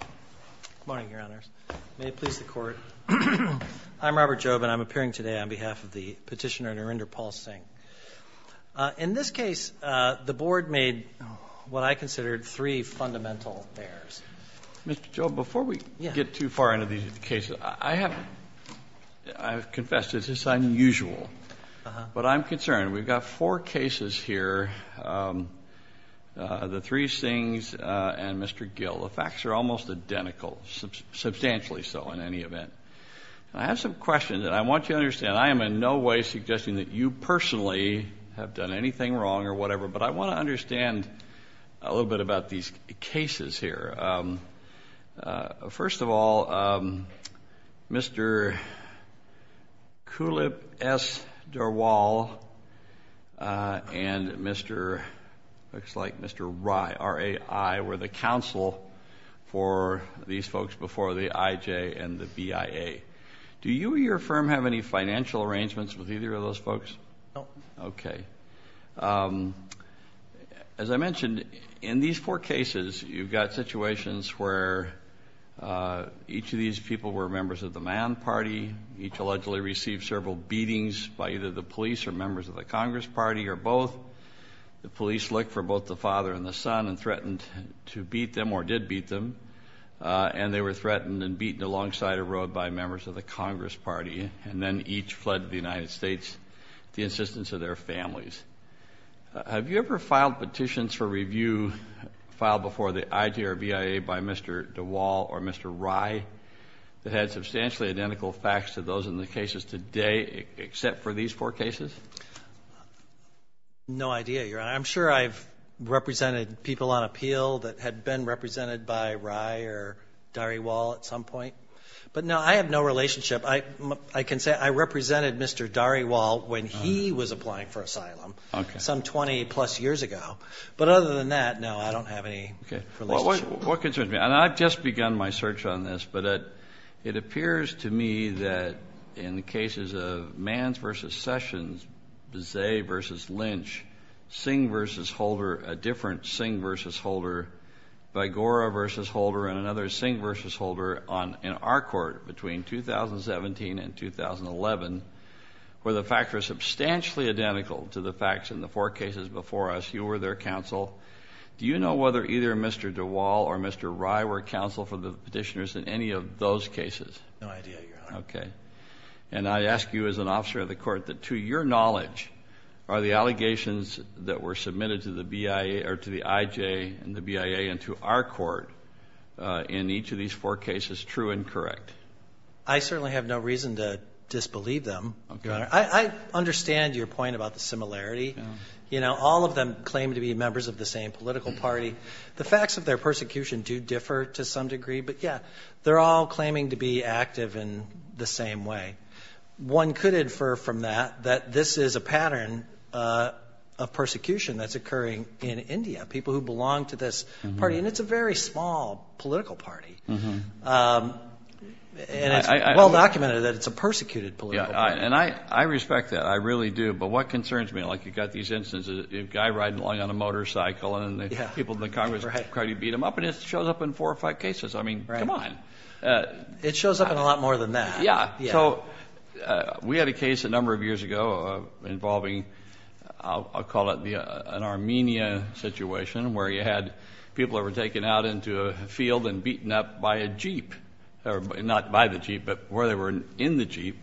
Good morning, Your Honors. May it please the Court. I'm Robert Jobe, and I'm appearing today on behalf of the Petitioner Narinder Paul Singh. In this case, the Board made what I considered three fundamental errors. Mr. Jobe, before we get too far into these cases, I have confessed that it's unusual, but I'm concerned. We've got four cases here, the three Singhs and Mr. Gill. The facts are almost identical, substantially so in any event. I have some questions, and I want you to understand I am in no way suggesting that you personally have done anything wrong or whatever, but I want to understand a little bit about these cases here. First of all, Mr. Kulip S. Darwal and Mr. Rai were the counsel for these folks before the IJ and the BIA. Do you or your firm have any financial arrangements with either of those folks? No. Okay. As I mentioned, in these four cases, you've got situations where each of these people were members of the Mann Party. Each allegedly received several beatings by either the police or members of the Congress Party or both. The police looked for both the father and the son and threatened to beat them or did beat them, and they were threatened and beaten alongside a road by members of the Congress Party, and then each fled to the United States. The insistence of their families. Have you ever filed petitions for review filed before the IJ or BIA by Mr. Darwal or Mr. Rai that had substantially identical facts to those in the cases today except for these four cases? No idea, Your Honor. I'm sure I've represented people on appeal that had been represented by Rai or Darwal at some point, but, no, I have no relationship. I can say I represented Mr. Darwal when he was applying for asylum some 20-plus years ago. But other than that, no, I don't have any relationship. What concerns me, and I've just begun my search on this, but it appears to me that in the cases of Manns v. Sessions, Bazet v. Lynch, Singh v. Holder, a different Singh v. Holder, by Gora v. Holder and another Singh v. Holder in our court between 2017 and 2011 where the facts were substantially identical to the facts in the four cases before us, you were their counsel. Do you know whether either Mr. Darwal or Mr. Rai were counsel for the petitioners in any of those cases? No idea, Your Honor. Okay. And I ask you as an officer of the court that to your knowledge, are the allegations that were submitted to the IJ and the BIA and to our court in each of these four cases true and correct? I certainly have no reason to disbelieve them, Your Honor. I understand your point about the similarity. You know, all of them claim to be members of the same political party. The facts of their persecution do differ to some degree. But, yeah, they're all claiming to be active in the same way. One could infer from that that this is a pattern of persecution that's occurring in India, people who belong to this party, and it's a very small political party. And it's well documented that it's a persecuted political party. And I respect that. I really do. But what concerns me, like you've got these instances of a guy riding along on a motorcycle and people in the Congress are trying to beat him up, and it shows up in four or five cases. I mean, come on. It shows up in a lot more than that. Yeah. So we had a case a number of years ago involving, I'll call it an Armenia situation, where you had people that were taken out into a field and beaten up by a jeep, not by the jeep but where they were in the jeep.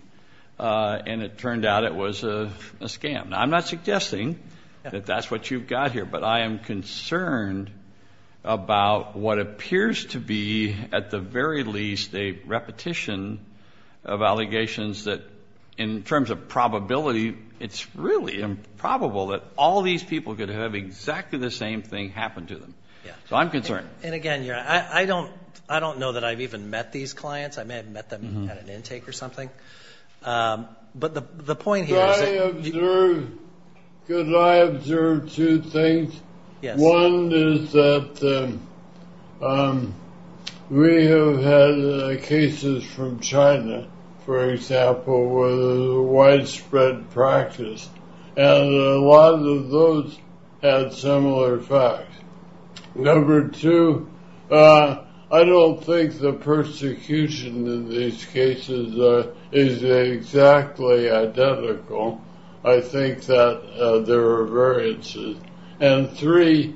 And it turned out it was a scam. Now, I'm not suggesting that that's what you've got here, but I am concerned about what appears to be, at the very least, a repetition of allegations that, in terms of probability, it's really improbable that all these people could have exactly the same thing happen to them. So I'm concerned. And, again, I don't know that I've even met these clients. I may have met them at an intake or something. But the point here is that – Could I observe two things? One is that we have had cases from China, for example, where there's a widespread practice, and a lot of those had similar facts. Number two, I don't think the persecution in these cases is exactly identical. I think that there are variances. And three,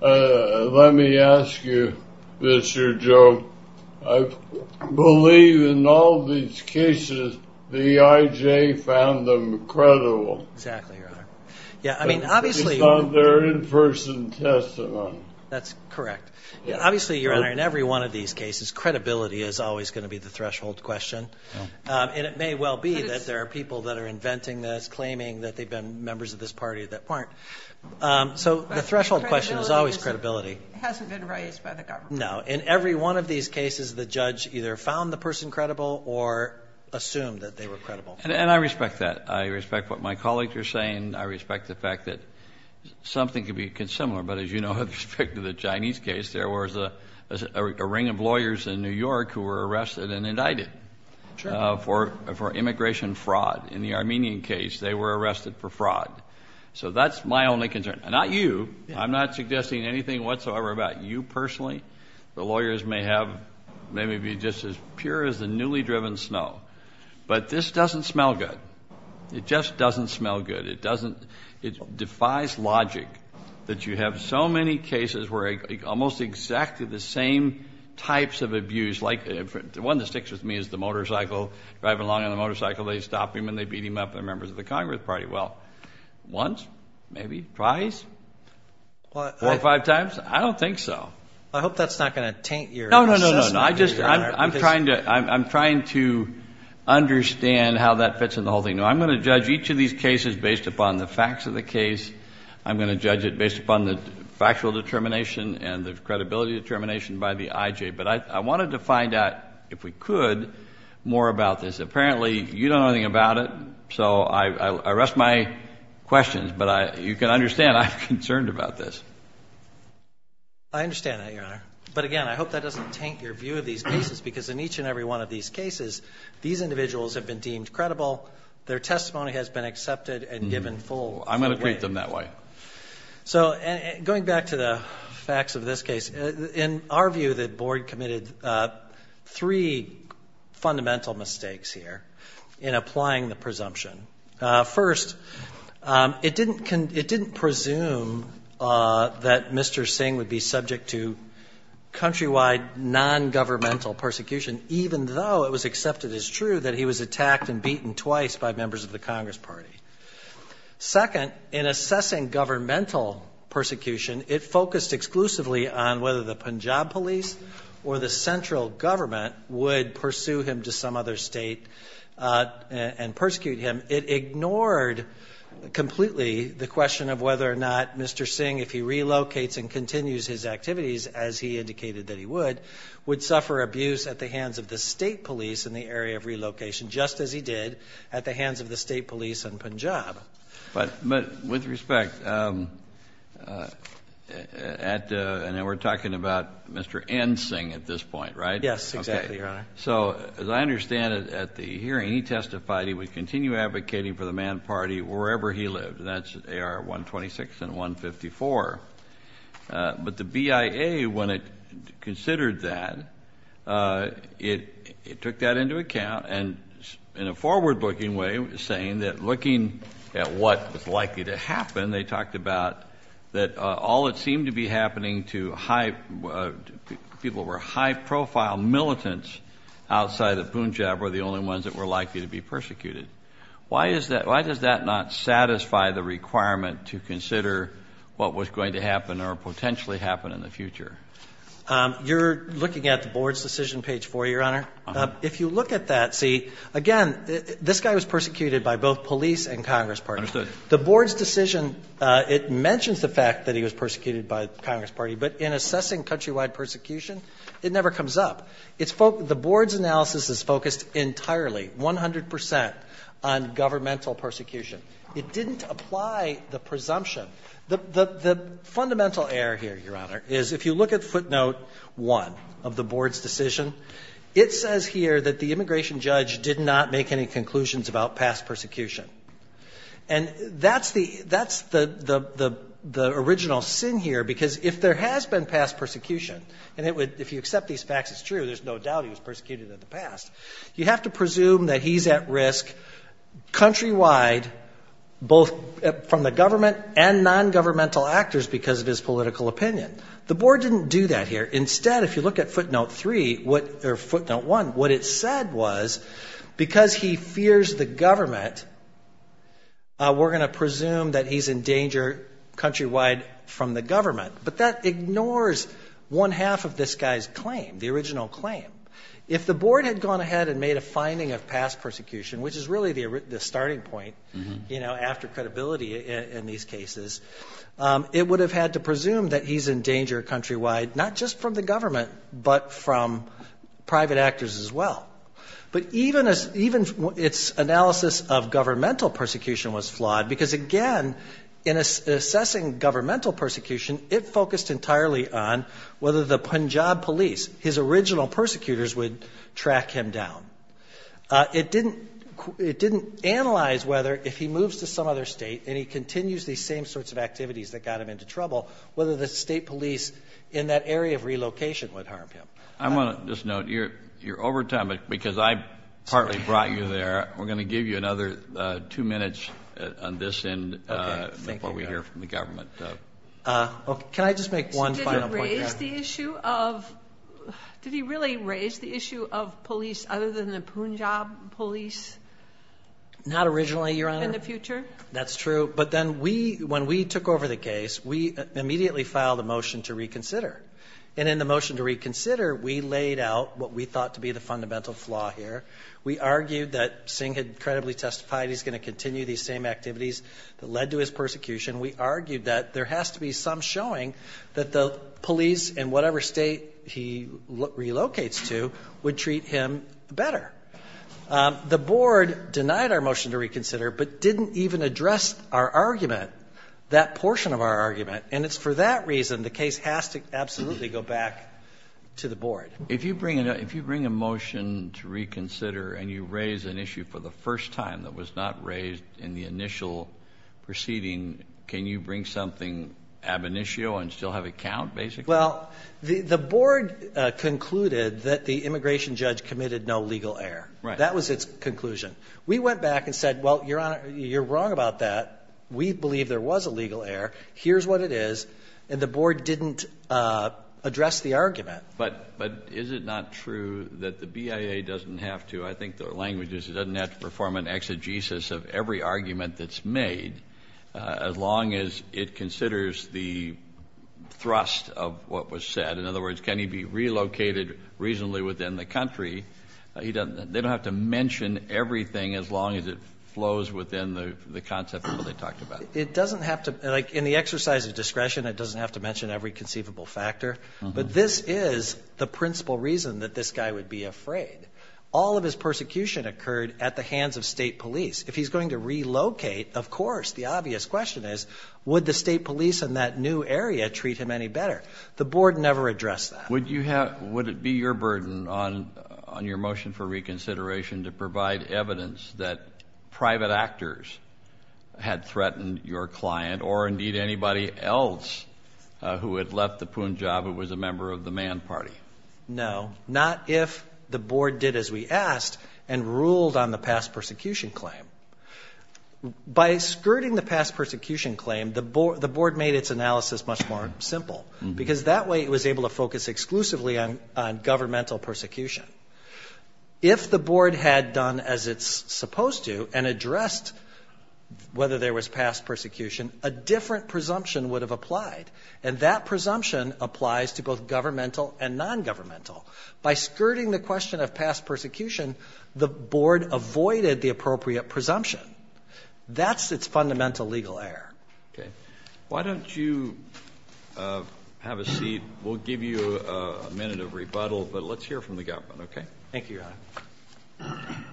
let me ask you, Mr. Joe, I believe in all these cases the IJ found them credible. Exactly, Your Honor. Based on their in-person testimony. That's correct. Obviously, Your Honor, in every one of these cases, credibility is always going to be the threshold question. And it may well be that there are people that are inventing this, claiming that they've been members of this party that aren't. So the threshold question is always credibility. It hasn't been raised by the government. No. In every one of these cases, the judge either found the person credible or assumed that they were credible. And I respect that. I respect what my colleagues are saying. I respect the fact that something could be similar. But, as you know, with respect to the Chinese case, there was a ring of lawyers in New York who were arrested and indicted for immigration fraud. In the Armenian case, they were arrested for fraud. So that's my only concern. Not you. I'm not suggesting anything whatsoever about you personally. The lawyers may be just as pure as the newly driven snow. But this doesn't smell good. It just doesn't smell good. It defies logic that you have so many cases where almost exactly the same types of abuse, like the one that sticks with me is the motorcycle. Driving along on the motorcycle, they stop him, and they beat him up, and they're members of the Congress party. Well, once, maybe twice, four or five times? I don't think so. I hope that's not going to taint your system. No, no, no, no. I'm trying to understand how that fits in the whole thing. You know, I'm going to judge each of these cases based upon the facts of the case. I'm going to judge it based upon the factual determination and the credibility determination by the IJ. But I wanted to find out, if we could, more about this. Apparently you don't know anything about it, so I rest my questions. But you can understand I'm concerned about this. I understand that, Your Honor. But, again, I hope that doesn't taint your view of these cases because in each and every one of these cases, these individuals have been deemed credible, their testimony has been accepted and given full weight. I'm going to treat them that way. So going back to the facts of this case, in our view, the Board committed three fundamental mistakes here in applying the presumption. First, it didn't presume that Mr. Singh would be subject to countrywide non-governmental persecution, even though it was accepted as true that he was attacked and beaten twice by members of the Congress Party. Second, in assessing governmental persecution, it focused exclusively on whether the Punjab police or the central government would pursue him to some other state and persecute him. It ignored completely the question of whether or not Mr. Singh, if he relocates and continues his activities as he indicated that he would, would suffer abuse at the hands of the state police in the area of relocation, just as he did at the hands of the state police in Punjab. But with respect, and we're talking about Mr. N. Singh at this point, right? Yes, exactly, Your Honor. So as I understand it, at the hearing, he testified he would continue advocating for the Mann Party wherever he lived. That's AR-126 and 154. But the BIA, when it considered that, it took that into account. And in a forward-looking way, saying that looking at what was likely to happen, they talked about that all that seemed to be happening to people who were high-profile militants outside of Punjab were the only ones that were likely to be persecuted. Why does that not satisfy the requirement to consider what was going to happen or potentially happen in the future? You're looking at the board's decision page four, Your Honor. If you look at that, see, again, this guy was persecuted by both police and Congress Party. Understood. The board's decision, it mentions the fact that he was persecuted by Congress Party. But in assessing countrywide persecution, it never comes up. The board's analysis is focused entirely, 100 percent, on governmental persecution. It didn't apply the presumption. The fundamental error here, Your Honor, is if you look at footnote one of the board's decision, it says here that the immigration judge did not make any conclusions about past persecution. And that's the original sin here, because if there has been past persecution, and if you accept these facts, it's true, there's no doubt he was persecuted in the past, you have to presume that he's at risk countrywide, both from the government and non-governmental actors, because of his political opinion. The board didn't do that here. Instead, if you look at footnote three, or footnote one, what it said was, because he fears the government, we're going to presume that he's in danger countrywide from the government. But that ignores one half of this guy's claim, the original claim. If the board had gone ahead and made a finding of past persecution, which is really the starting point, you know, after credibility in these cases, it would have had to presume that he's in danger countrywide, not just from the government, but from private actors as well. But even its analysis of governmental persecution was flawed, because, again, in assessing governmental persecution, it focused entirely on whether the Punjab police, his original persecutors, would track him down. It didn't analyze whether if he moves to some other state and he continues these same sorts of activities that got him into trouble, whether the state police in that area of relocation would harm him. I want to just note your overtime, because I partly brought you there. We're going to give you another two minutes on this end before we hear from the government. Can I just make one final point? Did he really raise the issue of police other than the Punjab police? Not originally, Your Honor. In the future? That's true. But then when we took over the case, we immediately filed a motion to reconsider. And in the motion to reconsider, we laid out what we thought to be the fundamental flaw here. We argued that Singh had credibly testified he's going to continue these same activities that led to his persecution. We argued that there has to be some showing that the police in whatever state he relocates to would treat him better. The board denied our motion to reconsider, but didn't even address our argument, that portion of our argument. And it's for that reason the case has to absolutely go back to the board. If you bring a motion to reconsider and you raise an issue for the first time that was not raised in the initial proceeding, can you bring something ab initio and still have it count, basically? Well, the board concluded that the immigration judge committed no legal error. That was its conclusion. We went back and said, well, Your Honor, you're wrong about that. We believe there was a legal error. Here's what it is. And the board didn't address the argument. But is it not true that the BIA doesn't have to, I think their language is it doesn't have to perform an exegesis of every argument that's made as long as it considers the thrust of what was said? In other words, can he be relocated reasonably within the country? They don't have to mention everything as long as it flows within the concept of what they talked about. It doesn't have to, like in the exercise of discretion, it doesn't have to mention every conceivable factor. But this is the principal reason that this guy would be afraid. All of his persecution occurred at the hands of state police. If he's going to relocate, of course, the obvious question is, would the state police in that new area treat him any better? The board never addressed that. Would it be your burden on your motion for reconsideration to provide evidence that private actors had threatened your client or indeed anybody else who had left the Punjab who was a member of the man party? No, not if the board did as we asked and ruled on the past persecution claim. By skirting the past persecution claim, the board made its analysis much more simple, because that way it was able to focus exclusively on governmental persecution. If the board had done as it's supposed to and addressed whether there was past persecution, a different presumption would have applied, and that presumption applies to both governmental and nongovernmental. By skirting the question of past persecution, the board avoided the appropriate presumption. That's its fundamental legal error. Okay. Why don't you have a seat? We'll give you a minute of rebuttal, but let's hear from the government, okay? Thank you, Your Honor.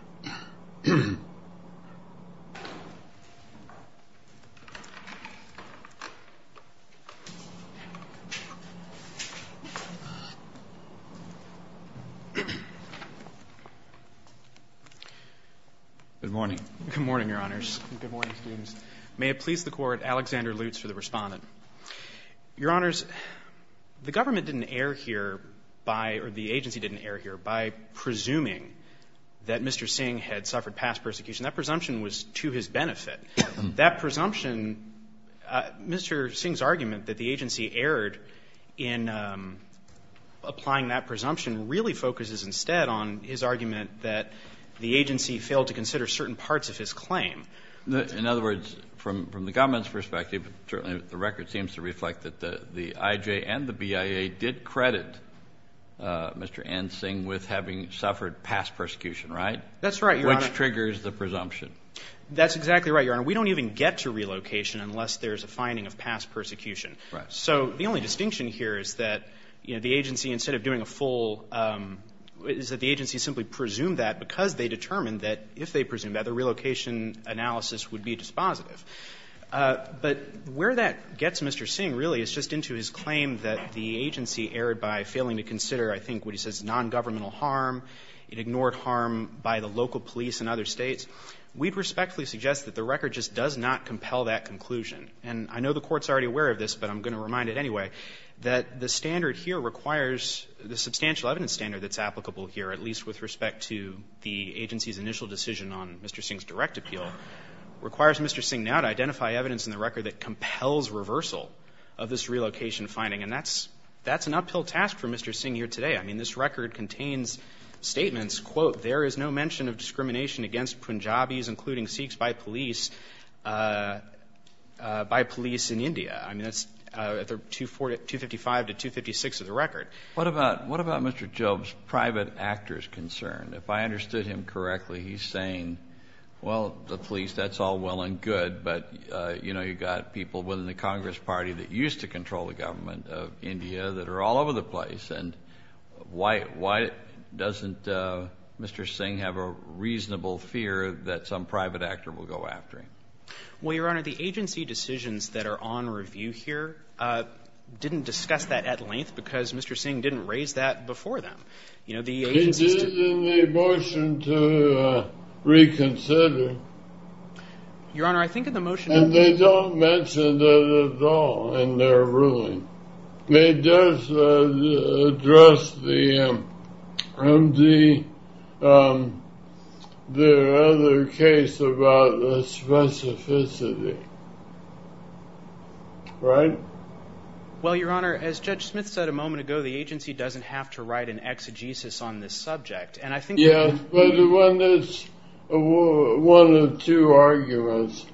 Good morning. Good morning, Your Honors. Good morning, students. May it please the Court, Alexander Lutz for the respondent. Your Honors, the government didn't err here by or the agency didn't err here by presuming that Mr. Singh had suffered past persecution. That presumption was to his benefit. That presumption, Mr. Singh's argument that the agency erred in applying that presumption really focuses instead on his argument that the agency failed to consider certain parts of his claim. In other words, from the government's perspective, certainly the record seems to reflect that the IJ and the BIA did credit Mr. N. Singh with having suffered past persecution, right? That's right, Your Honor. Which triggers the presumption. That's exactly right, Your Honor. We don't even get to relocation unless there's a finding of past persecution. Right. So the only distinction here is that the agency, instead of doing a full, is that the agency simply presumed that because they determined that if they presumed that, the relocation analysis would be dispositive. But where that gets Mr. Singh really is just into his claim that the agency erred by failing to consider, I think, what he says, nongovernmental harm. It ignored harm by the local police in other states. We'd respectfully suggest that the record just does not compel that conclusion. And I know the Court's already aware of this, but I'm going to remind it anyway, that the standard here requires the substantial evidence standard that's applicable here, at least with respect to the agency's initial decision on Mr. Singh's direct appeal, requires Mr. Singh now to identify evidence in the record that compels reversal of this relocation finding. And that's an uphill task for Mr. Singh here today. I mean, this record contains statements, quote, there is no mention of discrimination against Punjabis, including Sikhs, by police in India. I mean, that's at the 255 to 256 of the record. Kennedy, what about Mr. Job's private actor's concern? If I understood him correctly, he's saying, well, the police, that's all well and good, but, you know, you've got people within the Congress Party that used to control the government of India that are all over the place. And why doesn't Mr. Singh have a reasonable fear that some private actor will go after him? Well, Your Honor, the agency decisions that are on review here didn't discuss that at length because Mr. Singh didn't raise that before them. He did in the motion to reconsider. Your Honor, I think in the motion... And they don't mention that at all in their ruling. It does address the MD, their other case about the specificity. Right? Well, Your Honor, as Judge Smith said a moment ago, the agency doesn't have to write an exegesis on this subject. Yes, but when it's one of two arguments,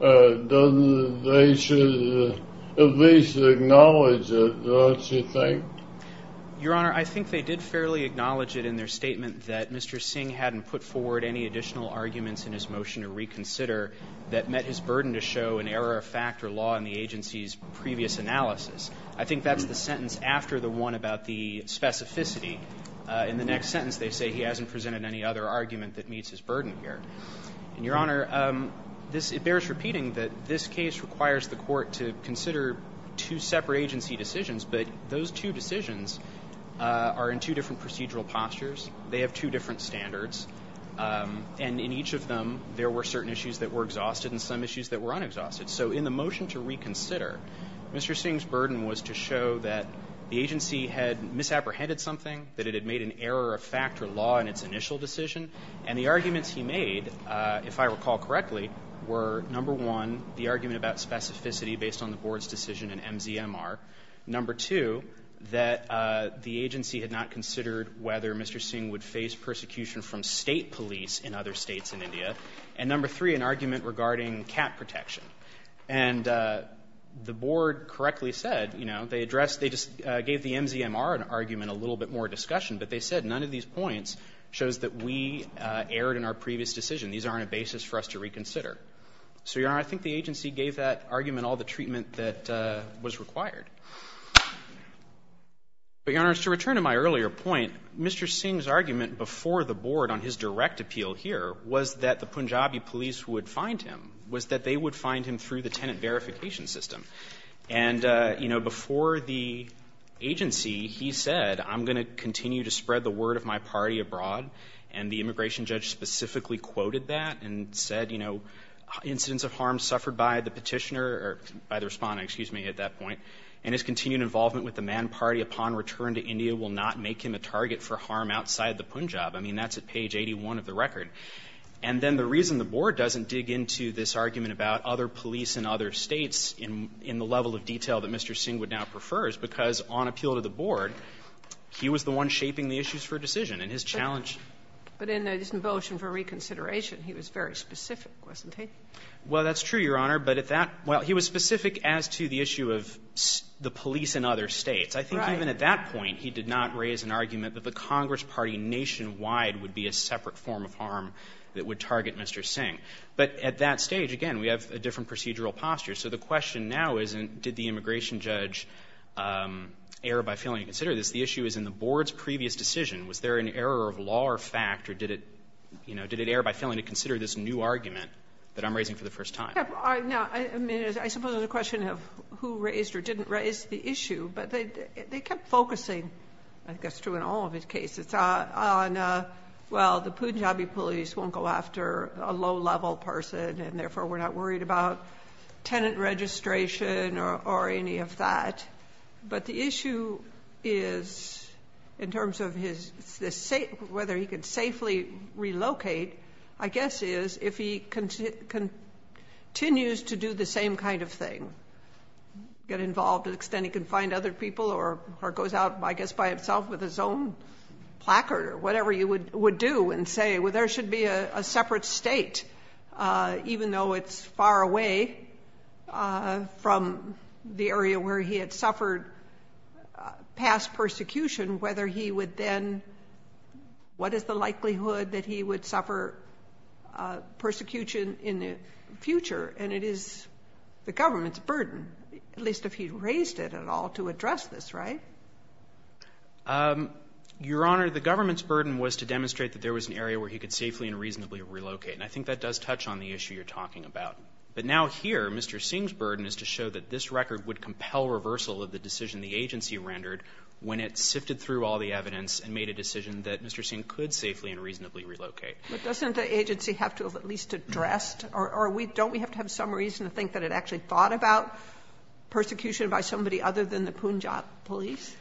they should at least acknowledge it, don't you think? Your Honor, I think they did fairly acknowledge it in their statement that Mr. Singh hadn't put forward any additional arguments in his motion to reconsider that met his burden to an error of fact or law in the agency's previous analysis. I think that's the sentence after the one about the specificity. In the next sentence, they say he hasn't presented any other argument that meets his burden here. And, Your Honor, it bears repeating that this case requires the court to consider two separate agency decisions, but those two decisions are in two different procedural postures. They have two different standards. And in each of them, there were certain issues that were exhausted and some issues that were unexhausted. So in the motion to reconsider, Mr. Singh's burden was to show that the agency had misapprehended something, that it had made an error of fact or law in its initial decision. And the arguments he made, if I recall correctly, were, number one, the argument about specificity based on the board's decision in MZMR, number two, that the agency had not considered whether Mr. Singh would face persecution from state police in other And the board correctly said, you know, they addressed, they just gave the MZMR argument a little bit more discussion, but they said none of these points shows that we erred in our previous decision. These aren't a basis for us to reconsider. So, Your Honor, I think the agency gave that argument all the treatment that was required. But, Your Honor, to return to my earlier point, Mr. Singh's argument before the board on his direct appeal here was that the Punjabi police would find him, was that they would find him through the tenant verification system. And, you know, before the agency, he said, I'm going to continue to spread the word of my party abroad. And the immigration judge specifically quoted that and said, you know, incidents of harm suffered by the petitioner or by the respondent, excuse me, at that point, and his continued involvement with the Mann party upon return to India will not make him a target for harm outside the Punjab. I mean, that's at page 81 of the record. And then the reason the board doesn't dig into this argument about other police in other States in the level of detail that Mr. Singh would now prefer is because on appeal to the board, he was the one shaping the issues for a decision, and his challenge. But in his invulsion for reconsideration, he was very specific, wasn't he? Well, that's true, Your Honor. But at that point, he was specific as to the issue of the police in other States. I think even at that point, he did not raise an argument that the Congress party nationwide would be a separate form of harm that would target Mr. Singh. But at that stage, again, we have a different procedural posture. So the question now isn't did the immigration judge err by failing to consider this. The issue is in the board's previous decision, was there an error of law or fact, or did it, you know, did it err by failing to consider this new argument that I'm raising for the first time? Now, I mean, I suppose it's a question of who raised or didn't raise the issue. But they kept focusing, I think that's true in all of his cases. It's on, well, the Punjabi police won't go after a low-level person, and therefore, we're not worried about tenant registration or any of that. But the issue is in terms of whether he could safely relocate, I guess is if he continues to do the same kind of thing. Get involved to the extent he can find other people or goes out, I guess, by himself with his own placard or whatever he would do and say, well, there should be a separate state, even though it's far away from the area where he had suffered past persecution, whether he would then, what is the likelihood that he would suffer persecution in the future? And it is the government's burden, at least if he raised it at all to address this, right? Your Honor, the government's burden was to demonstrate that there was an area where he could safely and reasonably relocate. And I think that does touch on the issue you're talking about. But now here, Mr. Singh's burden is to show that this record would compel reversal of the decision the agency rendered when it sifted through all the evidence and made a decision that Mr. Singh could safely and reasonably relocate. But doesn't the agency have to have at least addressed, or don't we have to have some reason to think that it actually thought about persecution by somebody other than the Punjab police?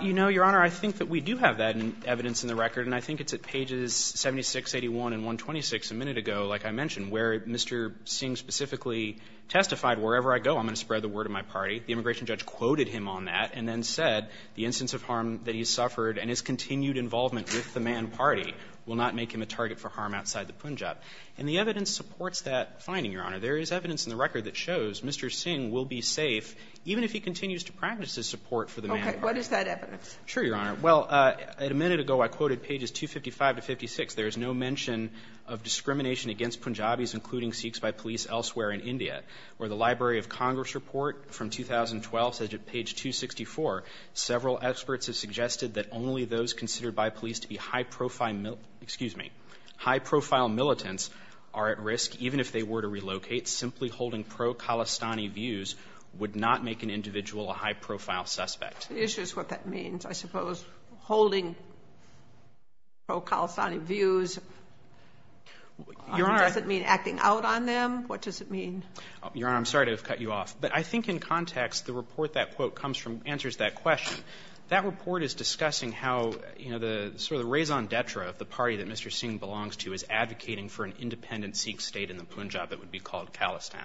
You know, Your Honor, I think that we do have that evidence in the record, and I think it's at pages 7681 and 126 a minute ago, like I mentioned, where Mr. Singh specifically testified, wherever I go, I'm going to spread the word of my party. The immigration judge quoted him on that and then said the instance of harm that he suffered and his continued involvement with the Man Party will not make him a target for harm outside the Punjab. And the evidence supports that finding, Your Honor. There is evidence in the record that shows Mr. Singh will be safe, even if he continues to practice his support for the Man Party. Okay. What is that evidence? Sure, Your Honor. Well, a minute ago I quoted pages 255 to 56. There is no mention of discrimination against Punjabis, including Sikhs by police elsewhere in India. Where the Library of Congress report from 2012 says at page 264, several experts have suggested that only those considered by police to be high-profile militants are at risk, even if they were to relocate. Simply holding pro-Khalistani views would not make an individual a high-profile suspect. Is this what that means? I suppose holding pro-Khalistani views doesn't mean acting out on them? What does it mean? Your Honor, I'm sorry to have cut you off. But I think in context, the report that quote comes from answers that question. That report is discussing how, you know, sort of the raison d'etre of the party that Mr. Singh belongs to is advocating for an independent Sikh state in the Punjab that would be called Khalistan.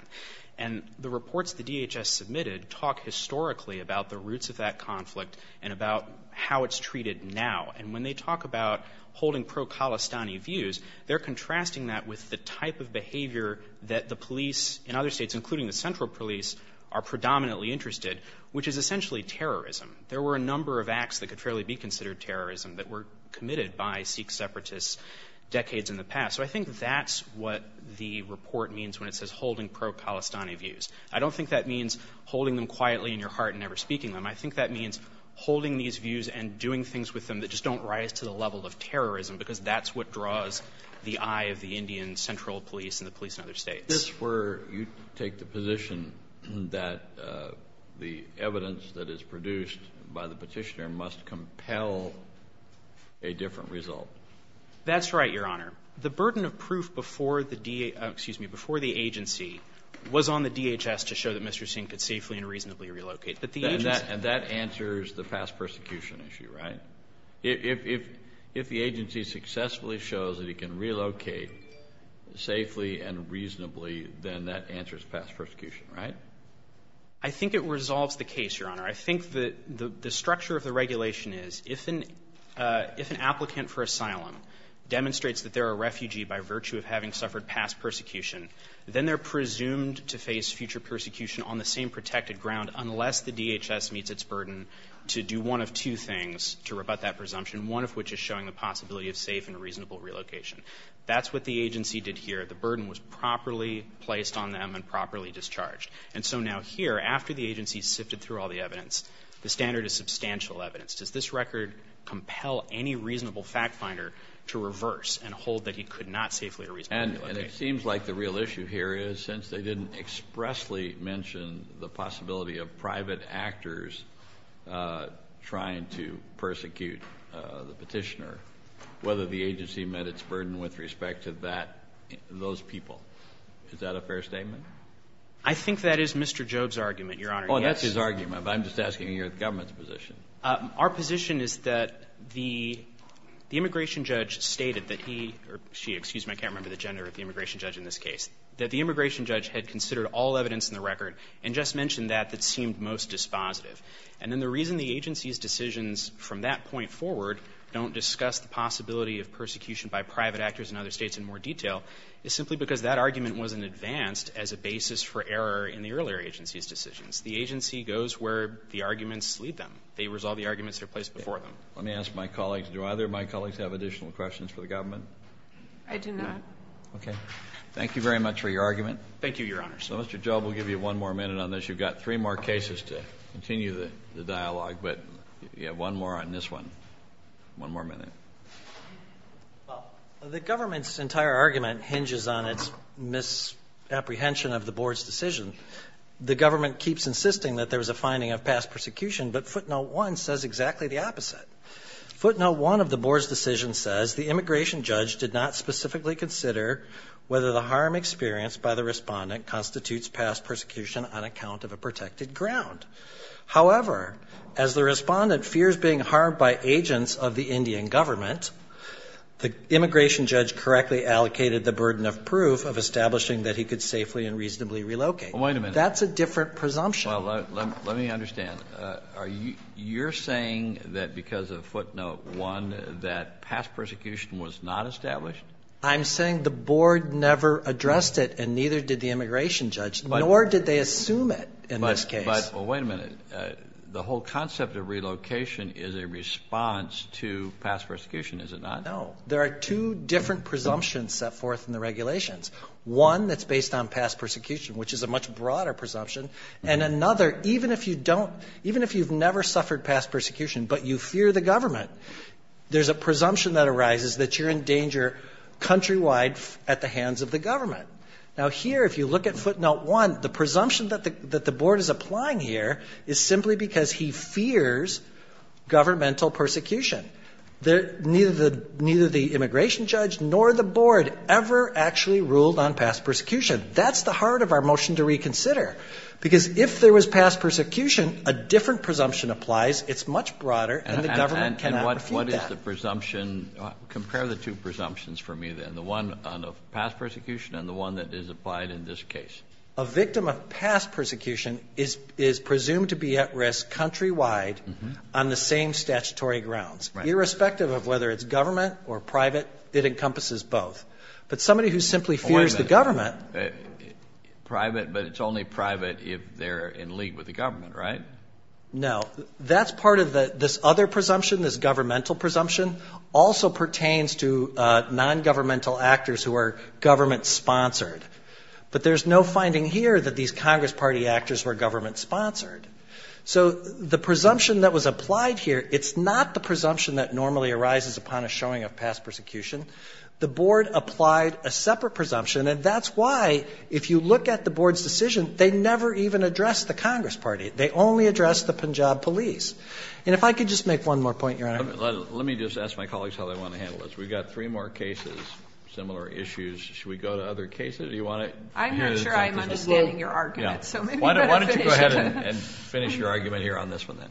And the reports the DHS submitted talk historically about the roots of that conflict and about how it's treated now. And when they talk about holding pro-Khalistani views, they're contrasting that with the type of behavior that the police in other states, including the central police, are predominantly interested, which is essentially terrorism. There were a number of acts that could fairly be considered terrorism that were committed by Sikh separatists decades in the past. So I think that's what the report means when it says holding pro-Khalistani views. I don't think that means holding them quietly in your heart and never speaking them. I think that means holding these views and doing things with them that just don't rise to the level of terrorism, because that's what draws the eye of the Indian central police and the police in other states. This is where you take the position that the evidence that is produced by the Petitioner must compel a different result. That's right, Your Honor. The burden of proof before the agency was on the DHS to show that Mr. Singh could safely and reasonably relocate. And that answers the past persecution issue, right? If the agency successfully shows that he can relocate safely and reasonably, then that answers past persecution, right? I think it resolves the case, Your Honor. I think the structure of the regulation is if an applicant for asylum demonstrates that they're a refugee by virtue of having suffered past persecution, then they're presumed to face future persecution on the same protected ground unless the DHS meets its burden to do one of two things to rebut that presumption, one of which is showing the possibility of safe and reasonable relocation. That's what the agency did here. The burden was properly placed on them and properly discharged. And so now here, after the agency has sifted through all the evidence, the standard is substantial evidence. Does this record compel any reasonable fact finder to reverse and hold that he could not safely or reasonably relocate? And it seems like the real issue here is since they didn't expressly mention the possibility of private actors trying to persecute the petitioner, whether the agency met its burden with respect to that, those people. Is that a fair statement? I think that is Mr. Job's argument, Your Honor. Yes. Oh, that's his argument. I'm just asking your government's position. Our position is that the immigration judge stated that he or she, excuse me, I can't remember the gender of the immigration judge in this case, that the immigration judge had considered all evidence in the record and just mentioned that that seemed most dispositive. And then the reason the agency's decisions from that point forward don't discuss the possibility of persecution by private actors in other States in more detail is simply because that argument wasn't advanced as a basis for error in the earlier agency's decisions. The agency goes where the arguments lead them. They resolve the arguments that are placed before them. Let me ask my colleagues. Do either of my colleagues have additional questions for the government? I do not. Okay. Thank you very much for your argument. Thank you, Your Honor. So Mr. Job, we'll give you one more minute on this. You've got three more cases to continue the dialogue, but you have one more on this one. One more minute. Well, the government's entire argument hinges on its misapprehension of the Board's decision. The government keeps insisting that there was a finding of past persecution, but footnote one says exactly the opposite. Footnote one of the Board's decision says the immigration judge did not specifically consider whether the harm experienced by the respondent constitutes past persecution on account of a protected ground. However, as the respondent fears being harmed by agents of the Indian government, the immigration judge correctly allocated the burden of proof of establishing that he could safely and reasonably relocate. Well, wait a minute. That's a different presumption. Well, let me understand. You're saying that because of footnote one that past persecution was not established? I'm saying the Board never addressed it and neither did the immigration judge, nor did they assume it in this case. But wait a minute. The whole concept of relocation is a response to past persecution, is it not? No. There are two different presumptions set forth in the regulations. One that's based on past persecution, which is a much broader presumption, and another, even if you don't, even if you've never suffered past persecution but you fear the government, there's a presumption that arises that you're in danger countrywide at the hands of the government. Now, here, if you look at footnote one, the presumption that the Board is applying here is simply because he fears governmental persecution. Neither the immigration judge nor the Board ever actually ruled on past persecution. That's the heart of our motion to reconsider. Because if there was past persecution, a different presumption applies, it's much broader, and the government cannot refute that. And what is the presumption? Compare the two presumptions for me, then, the one of past persecution and the one that is applied in this case. A victim of past persecution is presumed to be at risk countrywide on the same statutory grounds. Right. Irrespective of whether it's government or private, it encompasses both. But somebody who simply fears the government. Private, but it's only private if they're in league with the government, right? No. That's part of this other presumption, this governmental presumption, also pertains to nongovernmental actors who are government-sponsored. But there's no finding here that these Congress Party actors were government-sponsored. So the presumption that was applied here, it's not the presumption that normally arises upon a showing of past persecution. The Board applied a separate presumption, and that's why, if you look at the Board's decision, they never even addressed the Congress Party. They only addressed the Punjab police. And if I could just make one more point, Your Honor. Let me just ask my colleagues how they want to handle this. We've got three more cases, similar issues. Should we go to other cases? Or do you want to hear the conclusion? I'm not sure I'm understanding your argument. Why don't you go ahead and finish your argument here on this one then.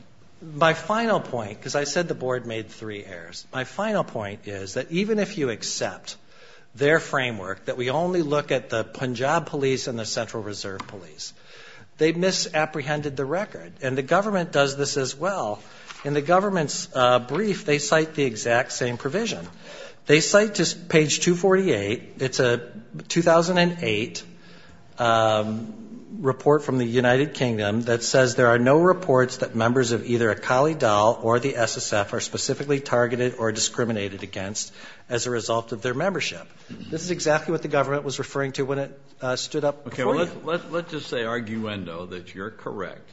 My final point, because I said the Board made three errors. My final point is that even if you accept their framework, that we only look at the Punjab police and the Central Reserve police, they misapprehended the record. And the government does this as well. In the government's brief, they cite the exact same provision. They cite page 248. It's a 2008 report from the United Kingdom that says there are no reports that members of either a Cali DAL or the SSF are specifically targeted or discriminated against as a result of their membership. This is exactly what the government was referring to when it stood up before you. Let's just say, arguendo, that you're correct.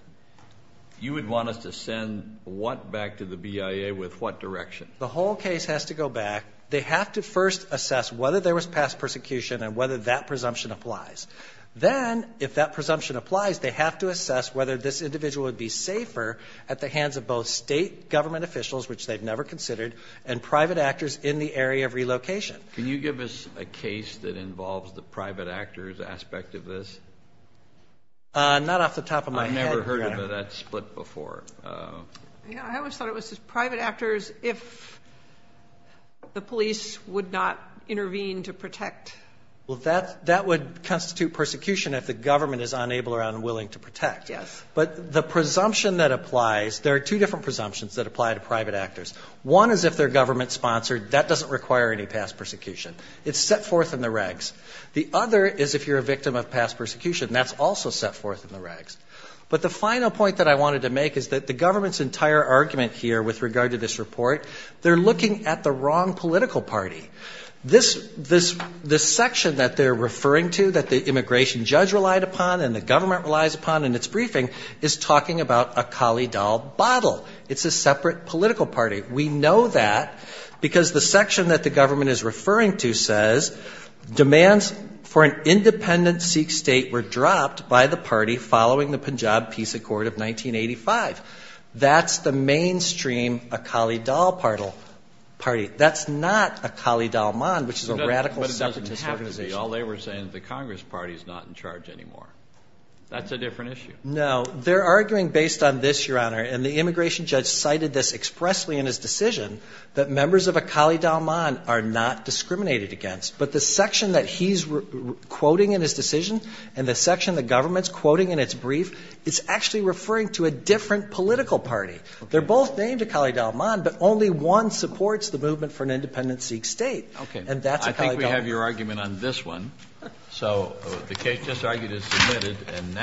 You would want us to send what back to the BIA with what direction? The whole case has to go back. They have to first assess whether there was past persecution and whether that presumption applies. Then, if that presumption applies, they have to assess whether this individual would be safer at the hands of both state government officials, which they've never considered, and private actors in the area of relocation. Can you give us a case that involves the private actors aspect of this? Not off the top of my head. I've never heard of that split before. I always thought it was private actors if the police would not intervene to protect. Well, that would constitute persecution if the government is unable or unwilling to protect. Yes. But the presumption that applies, there are two different presumptions that apply to private actors. One is if they're government-sponsored. That doesn't require any past persecution. It's set forth in the regs. The other is if you're a victim of past persecution. That's also set forth in the regs. But the final point that I wanted to make is that the government's entire argument here with regard to this report, they're looking at the wrong political party. This section that they're referring to that the immigration judge relied upon and the government relies upon in its briefing is talking about a Kalidol bottle. It's a separate political party. We know that because the section that the government is referring to says, Demands for an independent Sikh state were dropped by the party following the Punjab Peace Accord of 1985. That's the mainstream Kalidol party. That's not a Kalidolmand, which is a radical separatist organization. But it doesn't have to be. All they were saying is the Congress party is not in charge anymore. That's a different issue. No. They're arguing based on this, Your Honor, and the immigration judge cited this expressly in his decision, that members of a Kalidolmand are not discriminated against. But the section that he's quoting in his decision and the section the government's quoting in its brief, it's actually referring to a different political party. They're both named a Kalidolmand, but only one supports the movement for an independent Sikh state. Okay. And that's a Kalidolmand. I think we have your argument on this one. So the case just argued is submitted.